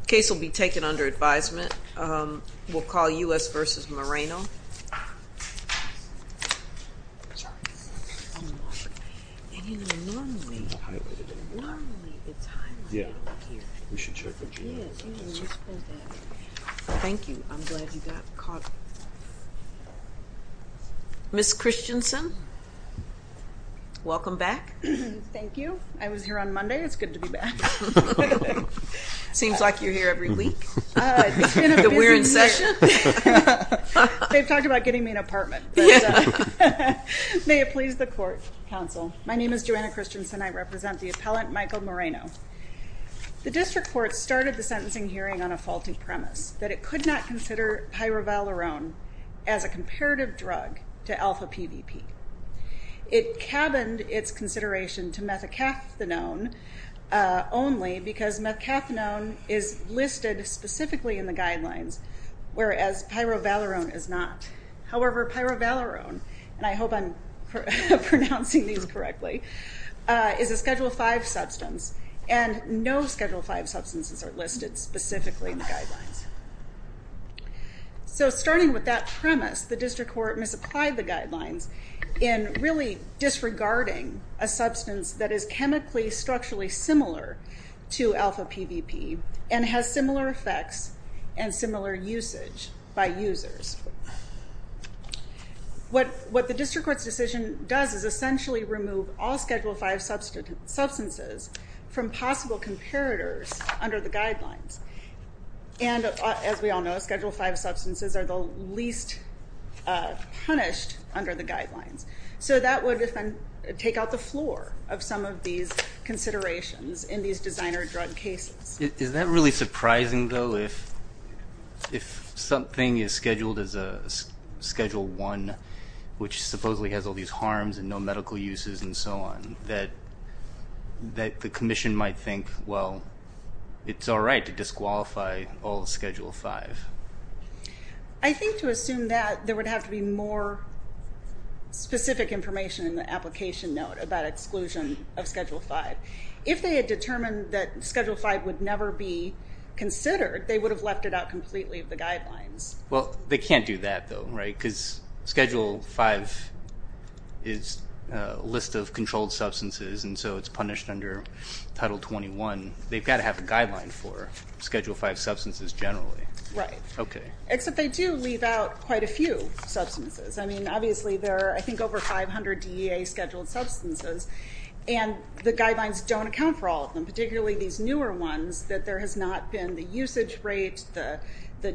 The case will be taken under advisement. We'll call U.S. v. Moreno. Thank you. I'm glad you got caught. Ms. Christensen, welcome back. Thank you. I was here on Monday. It's good to be back. Seems like you're here every week. It's been a busy week. They've talked about getting me an apartment. May it please the court, counsel. My name is Joanna Christensen. I represent the appellant, Michael Moreno. The district court started the sentencing hearing on a faulty premise, that it could not consider pyrovalerone as a comparative drug to alpha-PVP. It cabined its consideration to methacathinone only because methacathinone is listed specifically in the guidelines, whereas pyrovalerone is not. However, pyrovalerone, and I hope I'm pronouncing these correctly, is a Schedule V substance, and no Schedule V substances are listed specifically in the guidelines. So starting with that premise, the district court misapplied the guidelines in really disregarding a substance that is chemically, structurally similar to alpha-PVP and has similar effects and similar usage by users. What the district court's decision does is essentially remove all Schedule V substances from possible comparators under the guidelines. And as we all know, Schedule V substances are the least punished under the guidelines. So that would take out the floor of some of these considerations in these designer drug cases. Is that really surprising, though, if something is scheduled as a Schedule I, which supposedly has all these harms and no medical uses and so on, that the commission might think, well, it's all right to disqualify all of Schedule V? I think to assume that, there would have to be more specific information in the application note about exclusion of Schedule V. If they had determined that Schedule V would never be considered, they would have left it out completely of the guidelines. Well, they can't do that, though, right? Because Schedule V is a list of controlled substances, and so it's punished under Title 21. They've got to have a guideline for Schedule V substances generally. Right. Okay. Except they do leave out quite a few substances. I mean, obviously, there are, I think, over 500 DEA Scheduled Substances, and the guidelines don't account for all of them, particularly these newer ones, that there has not been the usage rate, the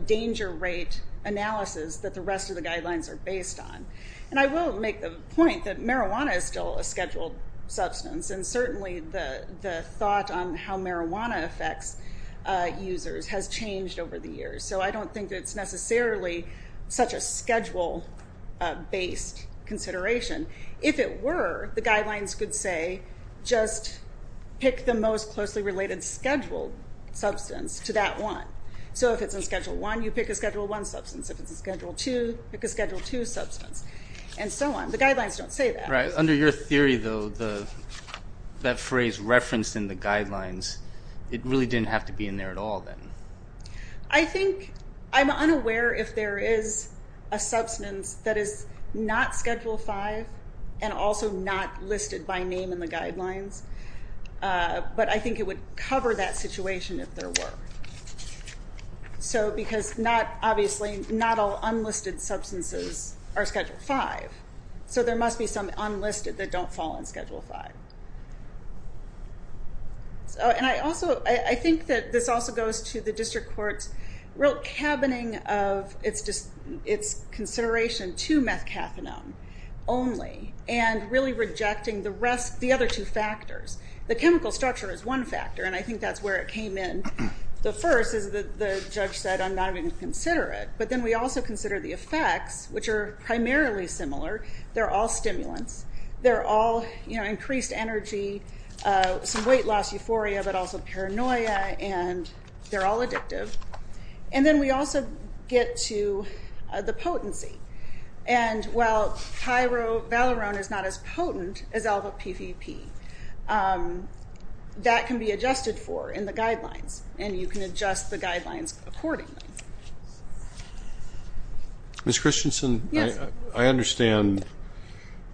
danger rate analysis that the rest of the guidelines are based on. And I will make the point that marijuana is still a Scheduled Substance, and certainly the thought on how marijuana affects users has changed over the years. So I don't think it's necessarily such a Schedule-based consideration. If it were, the guidelines could say, just pick the most closely related Scheduled Substance to that one. So if it's in Schedule I, you pick a Schedule I substance. If it's in Schedule II, pick a Schedule II substance, and so on. The guidelines don't say that. Right. Under your theory, though, that phrase referenced in the guidelines, it really didn't have to be in there at all, then? I think, I'm unaware if there is a substance that is not Schedule V, and also not listed by name in the guidelines, but I think it would cover that situation if there were. So because not, obviously, not all unlisted substances are Schedule V, so there must be some unlisted that don't fall in Schedule V. So, and I also, I think that this also goes to the district court's real cabining of its consideration to methcaffeinone only, and really rejecting the rest, the other two factors. The chemical structure is one factor, and I think that's where it came in. The first is that the judge said, I'm not even going to consider it. But then we also consider the effects, which are primarily similar. They're all stimulants. They're all increased energy, some weight loss euphoria, but also paranoia, and they're all addictive. And then we also get to the potency. And while pyrovalerone is not as potent as LVPVP, that can be adjusted for in the guidelines, and you can adjust the guidelines accordingly. Ms. Christensen, I understand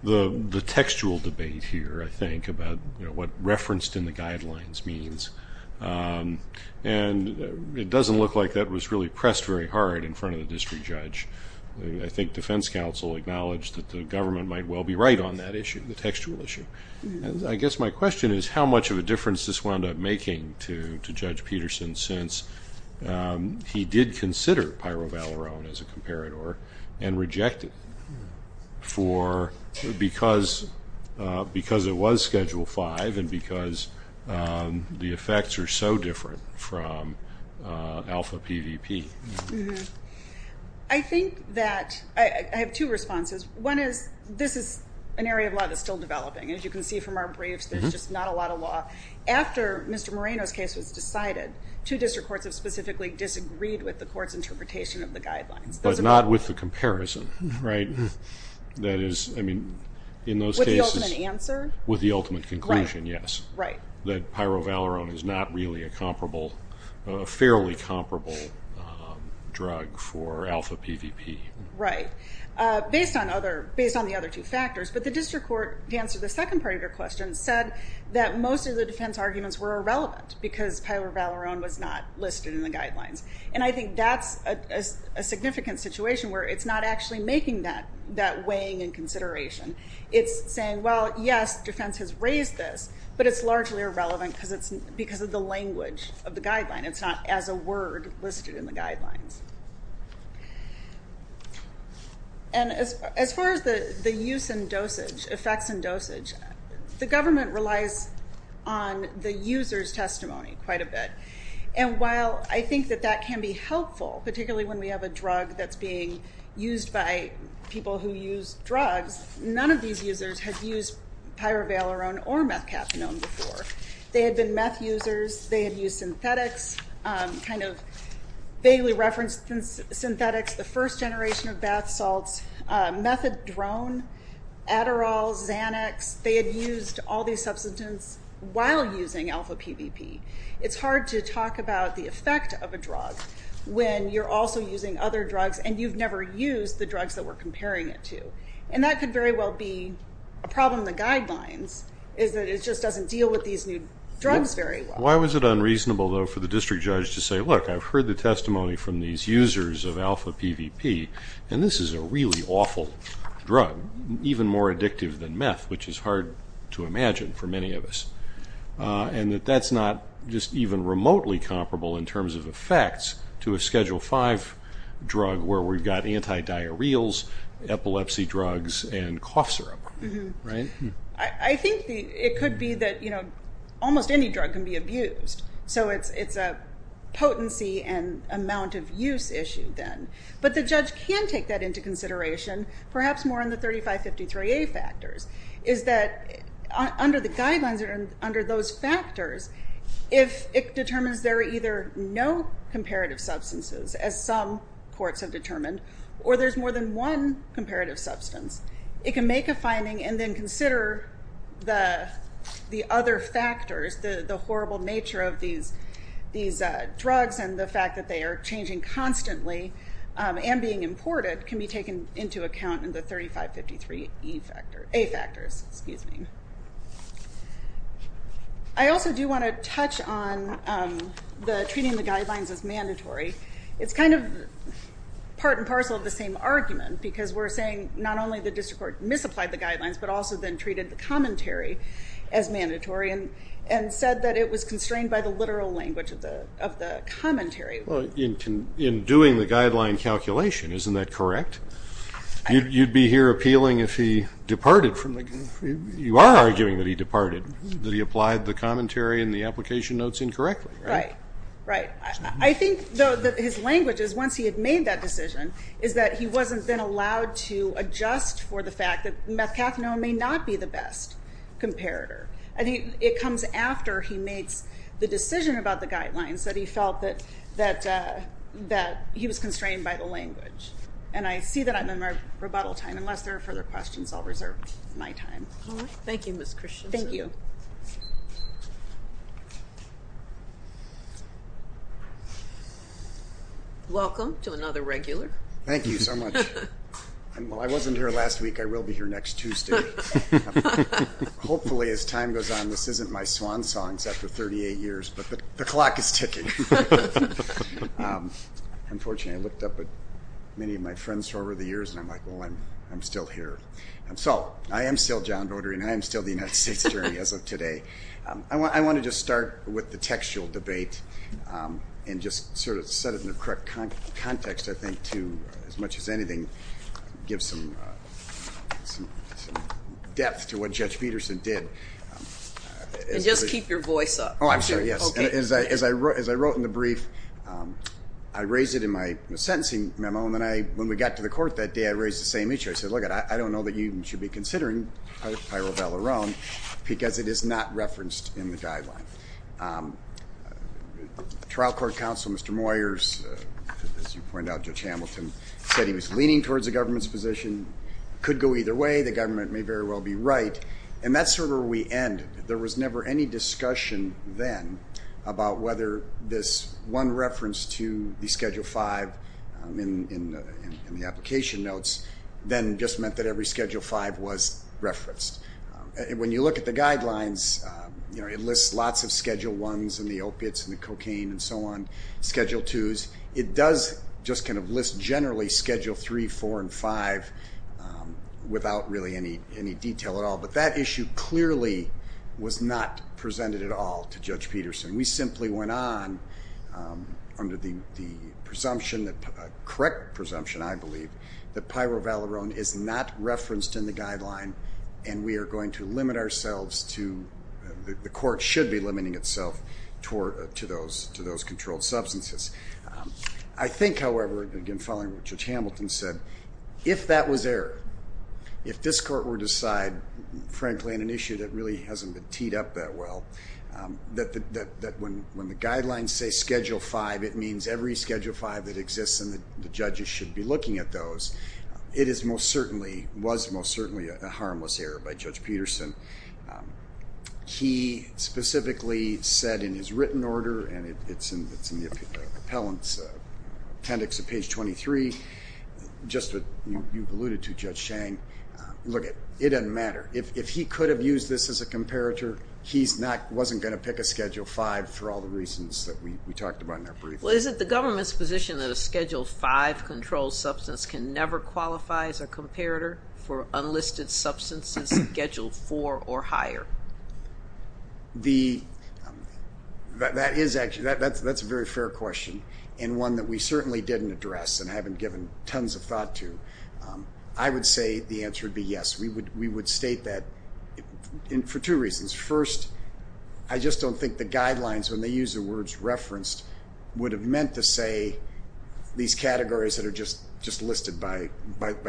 the textual debate here, I think, about what referenced in the guidelines means, and it doesn't look like that was really pressed very hard in front of the district judge. I think defense counsel acknowledged that the government might well be right on that issue, the textual issue. I guess my question is how much of a difference this wound up making to Judge Peterson, since he did consider pyrovalerone as a comparator and rejected it, because it was Schedule 5 and because the effects are so different from alpha PVP? I think that, I have two responses. One is, this is an area of law that's still developing. As you can see from our briefs, there's just not a lot of law. After Mr. Moreno's case was decided, two district courts have specifically disagreed with the court's interpretation of the guidelines. But not with the comparison, right? That is, I mean, in those cases- With the ultimate answer? With the ultimate conclusion, yes. That pyrovalerone is not really a comparable, a fairly comparable drug for alpha PVP. Right. Based on the other two factors, but the district court, to answer the second part of your question, said that most of the defense arguments were irrelevant, because pyrovalerone was not listed in the guidelines. I think that's a significant situation where it's not actually making that weighing and consideration. It's saying, well, yes, defense has raised this, but it's largely irrelevant because of the language of the guideline. It's not as a word listed in the guidelines. And as far as the use and dosage, effects and dosage, the government relies on the user's testimony quite a bit. And while I think that that can be helpful, particularly when we have a drug that's being used by people who use drugs, none of these users have used pyrovalerone or methcafenone before. They had been meth users, they had used synthetics, kind of vaguely referenced synthetics, the first generation of bath salts, methadrone, Adderall, Xanax, they had used all these substances while using alpha PVP. It's hard to talk about the effect of a drug when you're also using other drugs and you've never used the drugs that we're comparing it to. And that could very well be a problem in the guidelines, is that it just doesn't deal with these new drugs very well. Why was it unreasonable, though, for the district judge to say, look, I've heard the testimony from these users of alpha PVP, and this is a really awful drug, even more addictive than meth, which is hard to imagine for many of us. And that that's not just even remotely comparable in terms of effects to a Schedule 5 drug where we've got anti-diarrheals, epilepsy drugs, and cough syrup, right? I think it could be that almost any drug can be abused. So it's a potency and amount of use issue then. But the judge can take that into consideration, perhaps more in the 3553A factors, is that under the guidelines or under those factors, if it determines there are either no comparative substances, as some courts have determined, or there's more than one comparative substance, it can make a finding and then consider the other factors, the horrible nature of these drugs and the fact that they are changing constantly and being imported can be taken into account in the 3553A factors. I also do want to touch on treating the guidelines as mandatory. It's kind of part and parcel of the same argument, because we're saying not only the district court misapplied the guidelines, but also then treated the commentary as mandatory and said that it was constrained by the literal language of the commentary. In doing the guideline calculation, isn't that correct? You'd be here appealing if he departed from the... You are arguing that he departed, that he applied the commentary and the application notes incorrectly. Right. Right. I think, though, that his language is, once he had made that decision, is that he wasn't then allowed to adjust for the fact that methcathinone may not be the best comparator. It comes after he makes the decision about the guidelines that he felt that he was constrained by the language. I see that I'm in my rebuttal time, unless there are further questions, I'll reserve my time. All right. Thank you, Ms. Christiansen. Thank you. Welcome to another regular. Thank you so much. While I wasn't here last week, I will be here next Tuesday. Hopefully, as time goes on, this isn't my swan songs after 38 years, but the clock is ticking. Unfortunately, I looked up at many of my friends from over the years, and I'm like, well, I'm still here. I am still John Brodery, and I am still the United States Attorney as of today. I want to just start with the textual debate and just sort of set it in the correct context, I think, to, as much as anything, give some depth to what Judge Peterson did. And just keep your voice up. Oh, I'm sorry, yes. As I wrote in the brief, I raised it in my sentencing memo, and when we got to the court that day, I raised the same issue. I said, look, I don't know that you should be considering pyrovalerone because it is not referenced in the guideline. Trial Court Counsel, Mr. Moyers, as you point out, Judge Hamilton, said he was leaning towards the government's position. It could go either way. The government may very well be right. And that's sort of where we ended. There was never any discussion then about whether this one reference to the Schedule V in the application notes then just meant that every Schedule V was referenced. When you look at the guidelines, it lists lots of Schedule I's and the opiates and the cocaine and so on, Schedule II's. It does just kind of list generally Schedule III, IV, and V without really any detail at all, but that issue clearly was not presented at all to Judge Peterson. We simply went on under the presumption, the correct presumption, I believe, that pyrovalerone is not referenced in the guideline and we are going to limit ourselves to, the court should be limiting itself to those controlled substances. I think, however, again following what Judge Hamilton said, if that was there, if this court were to decide, frankly, on an issue that really hasn't been teed up that well, that when the guidelines say Schedule V, it means every Schedule V that exists and the judges should be looking at those. It is most certainly, was most certainly a harmless error by Judge Peterson. He specifically said in his written order, and it's in the appellant's appendix at page 23, just what you've alluded to, Judge Chang, look, it doesn't matter. If he could have used this as a comparator, he wasn't going to pick a Schedule V for all the reasons that we talked about in our briefing. Well, is it the government's position that a Schedule V controlled substance can never qualify as a comparator for unlisted substances Schedule IV or higher? That is actually, that's a very fair question and one that we certainly didn't address and haven't given tons of thought to. I would say the answer would be yes. We would state that for two reasons. First, I just don't think the guidelines, when they use the words referenced, would have meant to say these categories that are just listed by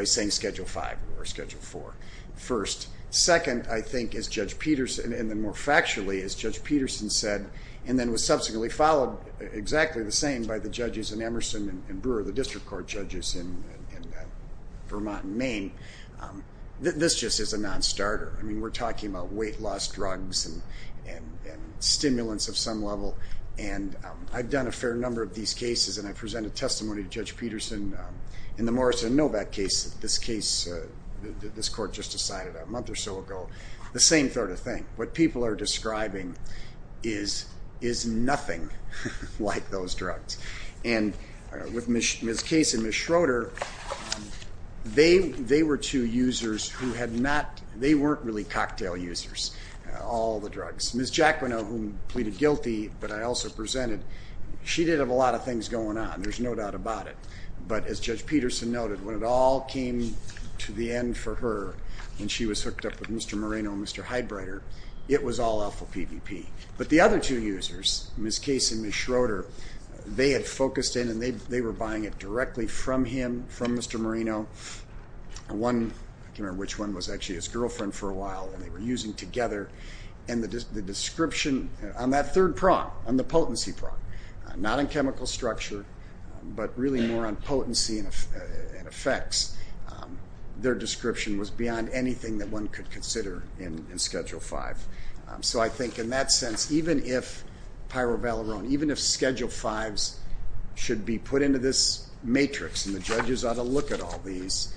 saying Schedule V or Schedule IV. First. Second, I think as Judge Peterson, and then more factually, as Judge Peterson said, and then was subsequently followed exactly the same by the judges in Emerson and Brewer, the district court judges in Vermont and Maine, this just is a non-starter. I mean, we're talking about weight loss drugs and stimulants of some level and I've done a fair number of these cases and I presented testimony to Judge Peterson in the Morrison Novak case, this case that this court just decided a month or so ago, the same sort of thing. What people are describing is nothing like those drugs. With Ms. Case and Ms. Schroeder, they were two users who had not, they weren't really cocktail users, all the drugs. Ms. Jaquino, who pleaded guilty, but I also presented, she did have a lot of things going on. There's no doubt about it. But as Judge Peterson noted, when it all came to the end for her, when she was hooked up with Mr. Moreno and Mr. Heidbreder, it was all awful PVP. But the other two users, Ms. Case and Ms. Schroeder, they had focused in and they were buying it directly from him, from Mr. Moreno. One, I can't remember which one, was actually his girlfriend for a while and they were using together. And the description on that third prong, on the potency prong, not on chemical structure but really more on potency and effects, their description was beyond anything that one could consider in Schedule 5. So I think in that sense, even if Pyrovalerone, even if Schedule 5s should be put into this matrix and the judges ought to look at all these,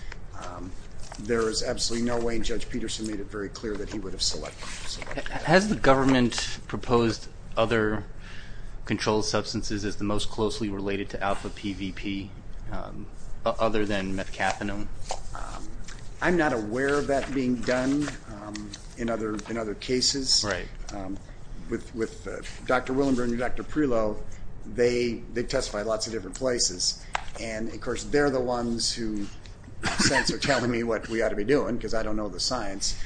there is absolutely no way, and Judge Peterson made it very clear, that he would have selected them. Has the government proposed other controlled substances as the most closely related to alpha PVP other than methcathinone? I'm not aware of that being done in other cases. Right. With Dr. Willenberg and Dr. Prelow, they test by lots of different places. And of course, they're the ones who are telling me what we ought to be doing because I don't know the science.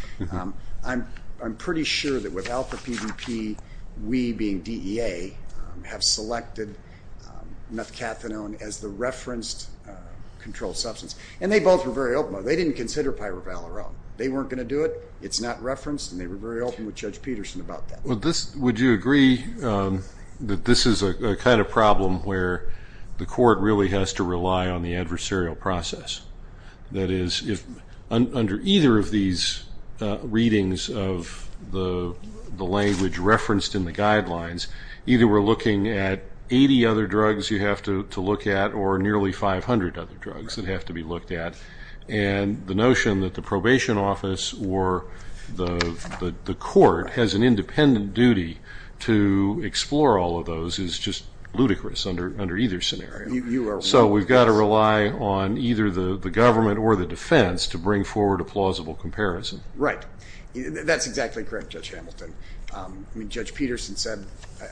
I'm pretty sure that with alpha PVP, we being DEA, have selected methcathinone as the referenced controlled substance. And they both were very open about it. They didn't consider Pyrovalerone. They weren't going to do it. It's not referenced. And they were very open with Judge Peterson about that. Would you agree that this is a kind of problem where the court really has to rely on the adversarial process? That is, if under either of these readings of the language referenced in the guidelines, either we're looking at 80 other drugs you have to look at or nearly 500 other drugs that have to be looked at. And the notion that the probation office or the court has an independent duty to explore all of those is just ludicrous under either scenario. So we've got to rely on either the government or the defense to bring forward a plausible comparison. Right. That's exactly correct, Judge Hamilton. I mean, Judge Peterson said,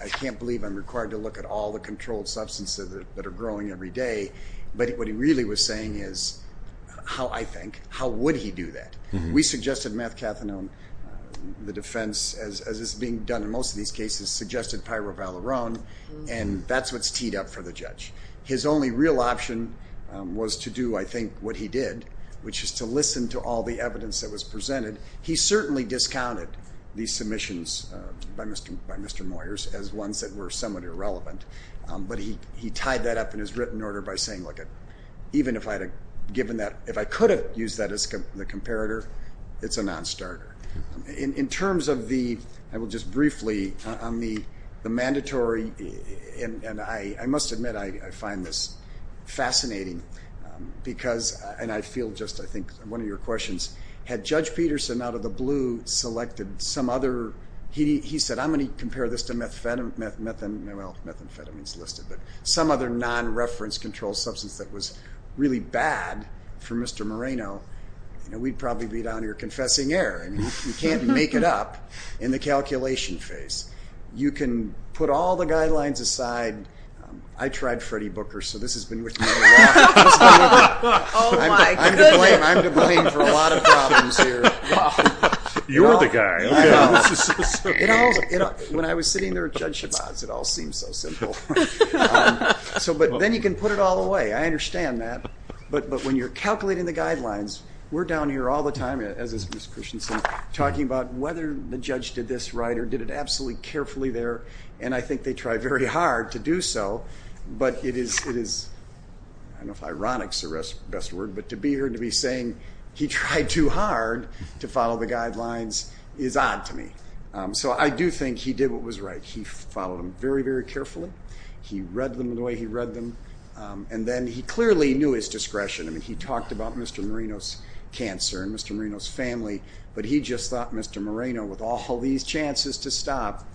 I can't believe I'm required to look at all the controlled substances that are growing every day. But what he really was saying is, how I think, how would he do that? We suggested methcathinone. The defense, as is being done in most of these cases, suggested Pyrovalerone. And that's what's teed up for the judge. His only real option was to do, I think, what he did, which is to listen to all the evidence that was presented. He certainly discounted these submissions by Mr. Moyers as ones that were somewhat irrelevant. But he tied that up in his written order by saying, look, even if I could have used that as the comparator, it's a non-starter. In terms of the, I will just briefly, on the mandatory, and I must admit I find this fascinating because, and I feel just, I think, one of your questions, had Judge Peterson, out of the blue, selected some other, he said, I'm going to compare this to methamphetamines listed, but some other non-reference controlled substance that was really bad for Mr. Moreno, we'd probably be down here confessing error. I mean, you can't make it up in the calculation phase. You can put all the guidelines aside. I tried Freddy Booker, so this has been with me a while. I'm to blame for a lot of problems here. You're the guy. When I was sitting there with Judge Shabazz, it all seemed so simple. But then you can put it all away. I understand that. But when you're calculating the guidelines, we're down here all the time, as is Ms. Christensen, talking about whether the judge did this right or did it absolutely carefully there, and I think they try very hard to do so, but it is, I don't know if ironic is the best word, but to be here and to be saying he tried too hard to follow the guidelines is odd to me. So I do think he did what was right. He followed them very, very carefully. He read them the way he read them. And then he clearly knew his discretion. I mean, he talked about Mr. Moreno's cancer and Mr. Moreno's family, but he just thought Mr. Moreno, with all these chances to stop,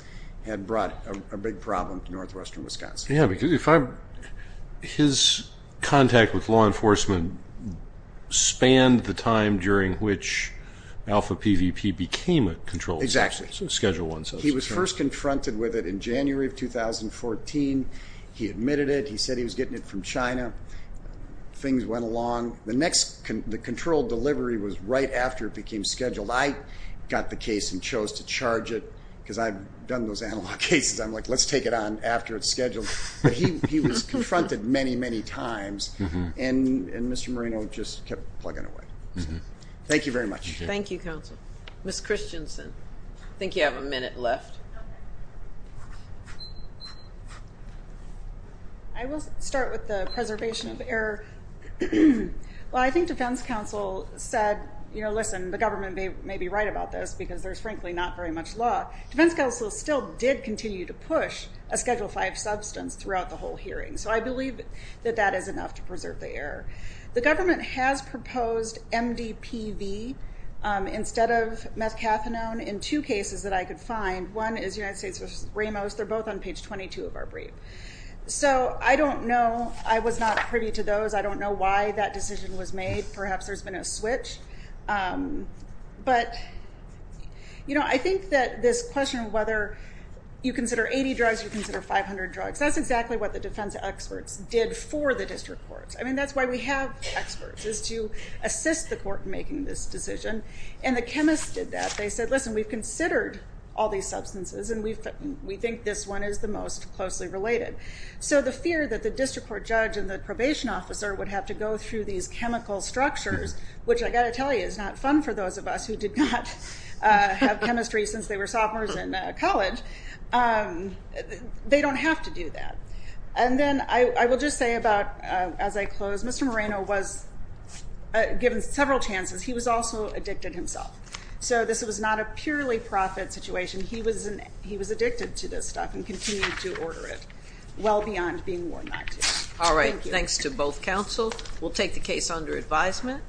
had brought a big problem to northwestern Wisconsin. Yeah, because his contact with law enforcement spanned the time during which Alpha PVP became a controlled substance. Exactly. Schedule I substance. He was first confronted with it in January of 2014. He admitted it. He said he was getting it from China. Things went along. The controlled delivery was right after it became scheduled. I got the case and chose to charge it because I've done those analog cases. I'm like, let's take it on after it's scheduled. But he was confronted many, many times, and Mr. Moreno just kept plugging away. Thank you very much. Thank you, counsel. Ms. Christensen, I think you have a minute left. I will start with the preservation of error. Well, I think defense counsel said, you know, listen, the government may be right about this because there's frankly not very much law. Defense counsel still did continue to push a Schedule V substance throughout the whole hearing. So I believe that that is enough to preserve the error. The government has proposed MDPV instead of methcathinone in two cases that I could find. One is United States versus Ramos. They're both on page 22 of our brief. So I don't know. I was not privy to those. I don't know why that decision was made. Perhaps there's been a switch. But, you know, I think that this question of whether you consider 80 drugs, you consider 500 drugs, that's exactly what the defense experts did for the district courts. I mean, that's why we have experts, is to assist the court in making this decision. And the chemists did that. They said, listen, we've considered all these substances, and we think this one is the most closely related. So the fear that the district court judge and the probation officer would have to go through these chemical structures, which I got to tell you is not fun for those of us who did not have chemistry since they were sophomores in college, they don't have to do that. And then I will just say about as I close, Mr. Moreno was given several chances. He was also addicted himself. So this was not a purely profit situation. He was addicted to this stuff and continued to order it well beyond being warned not to. All right. Thanks to both counsel. We'll take the case under advisement.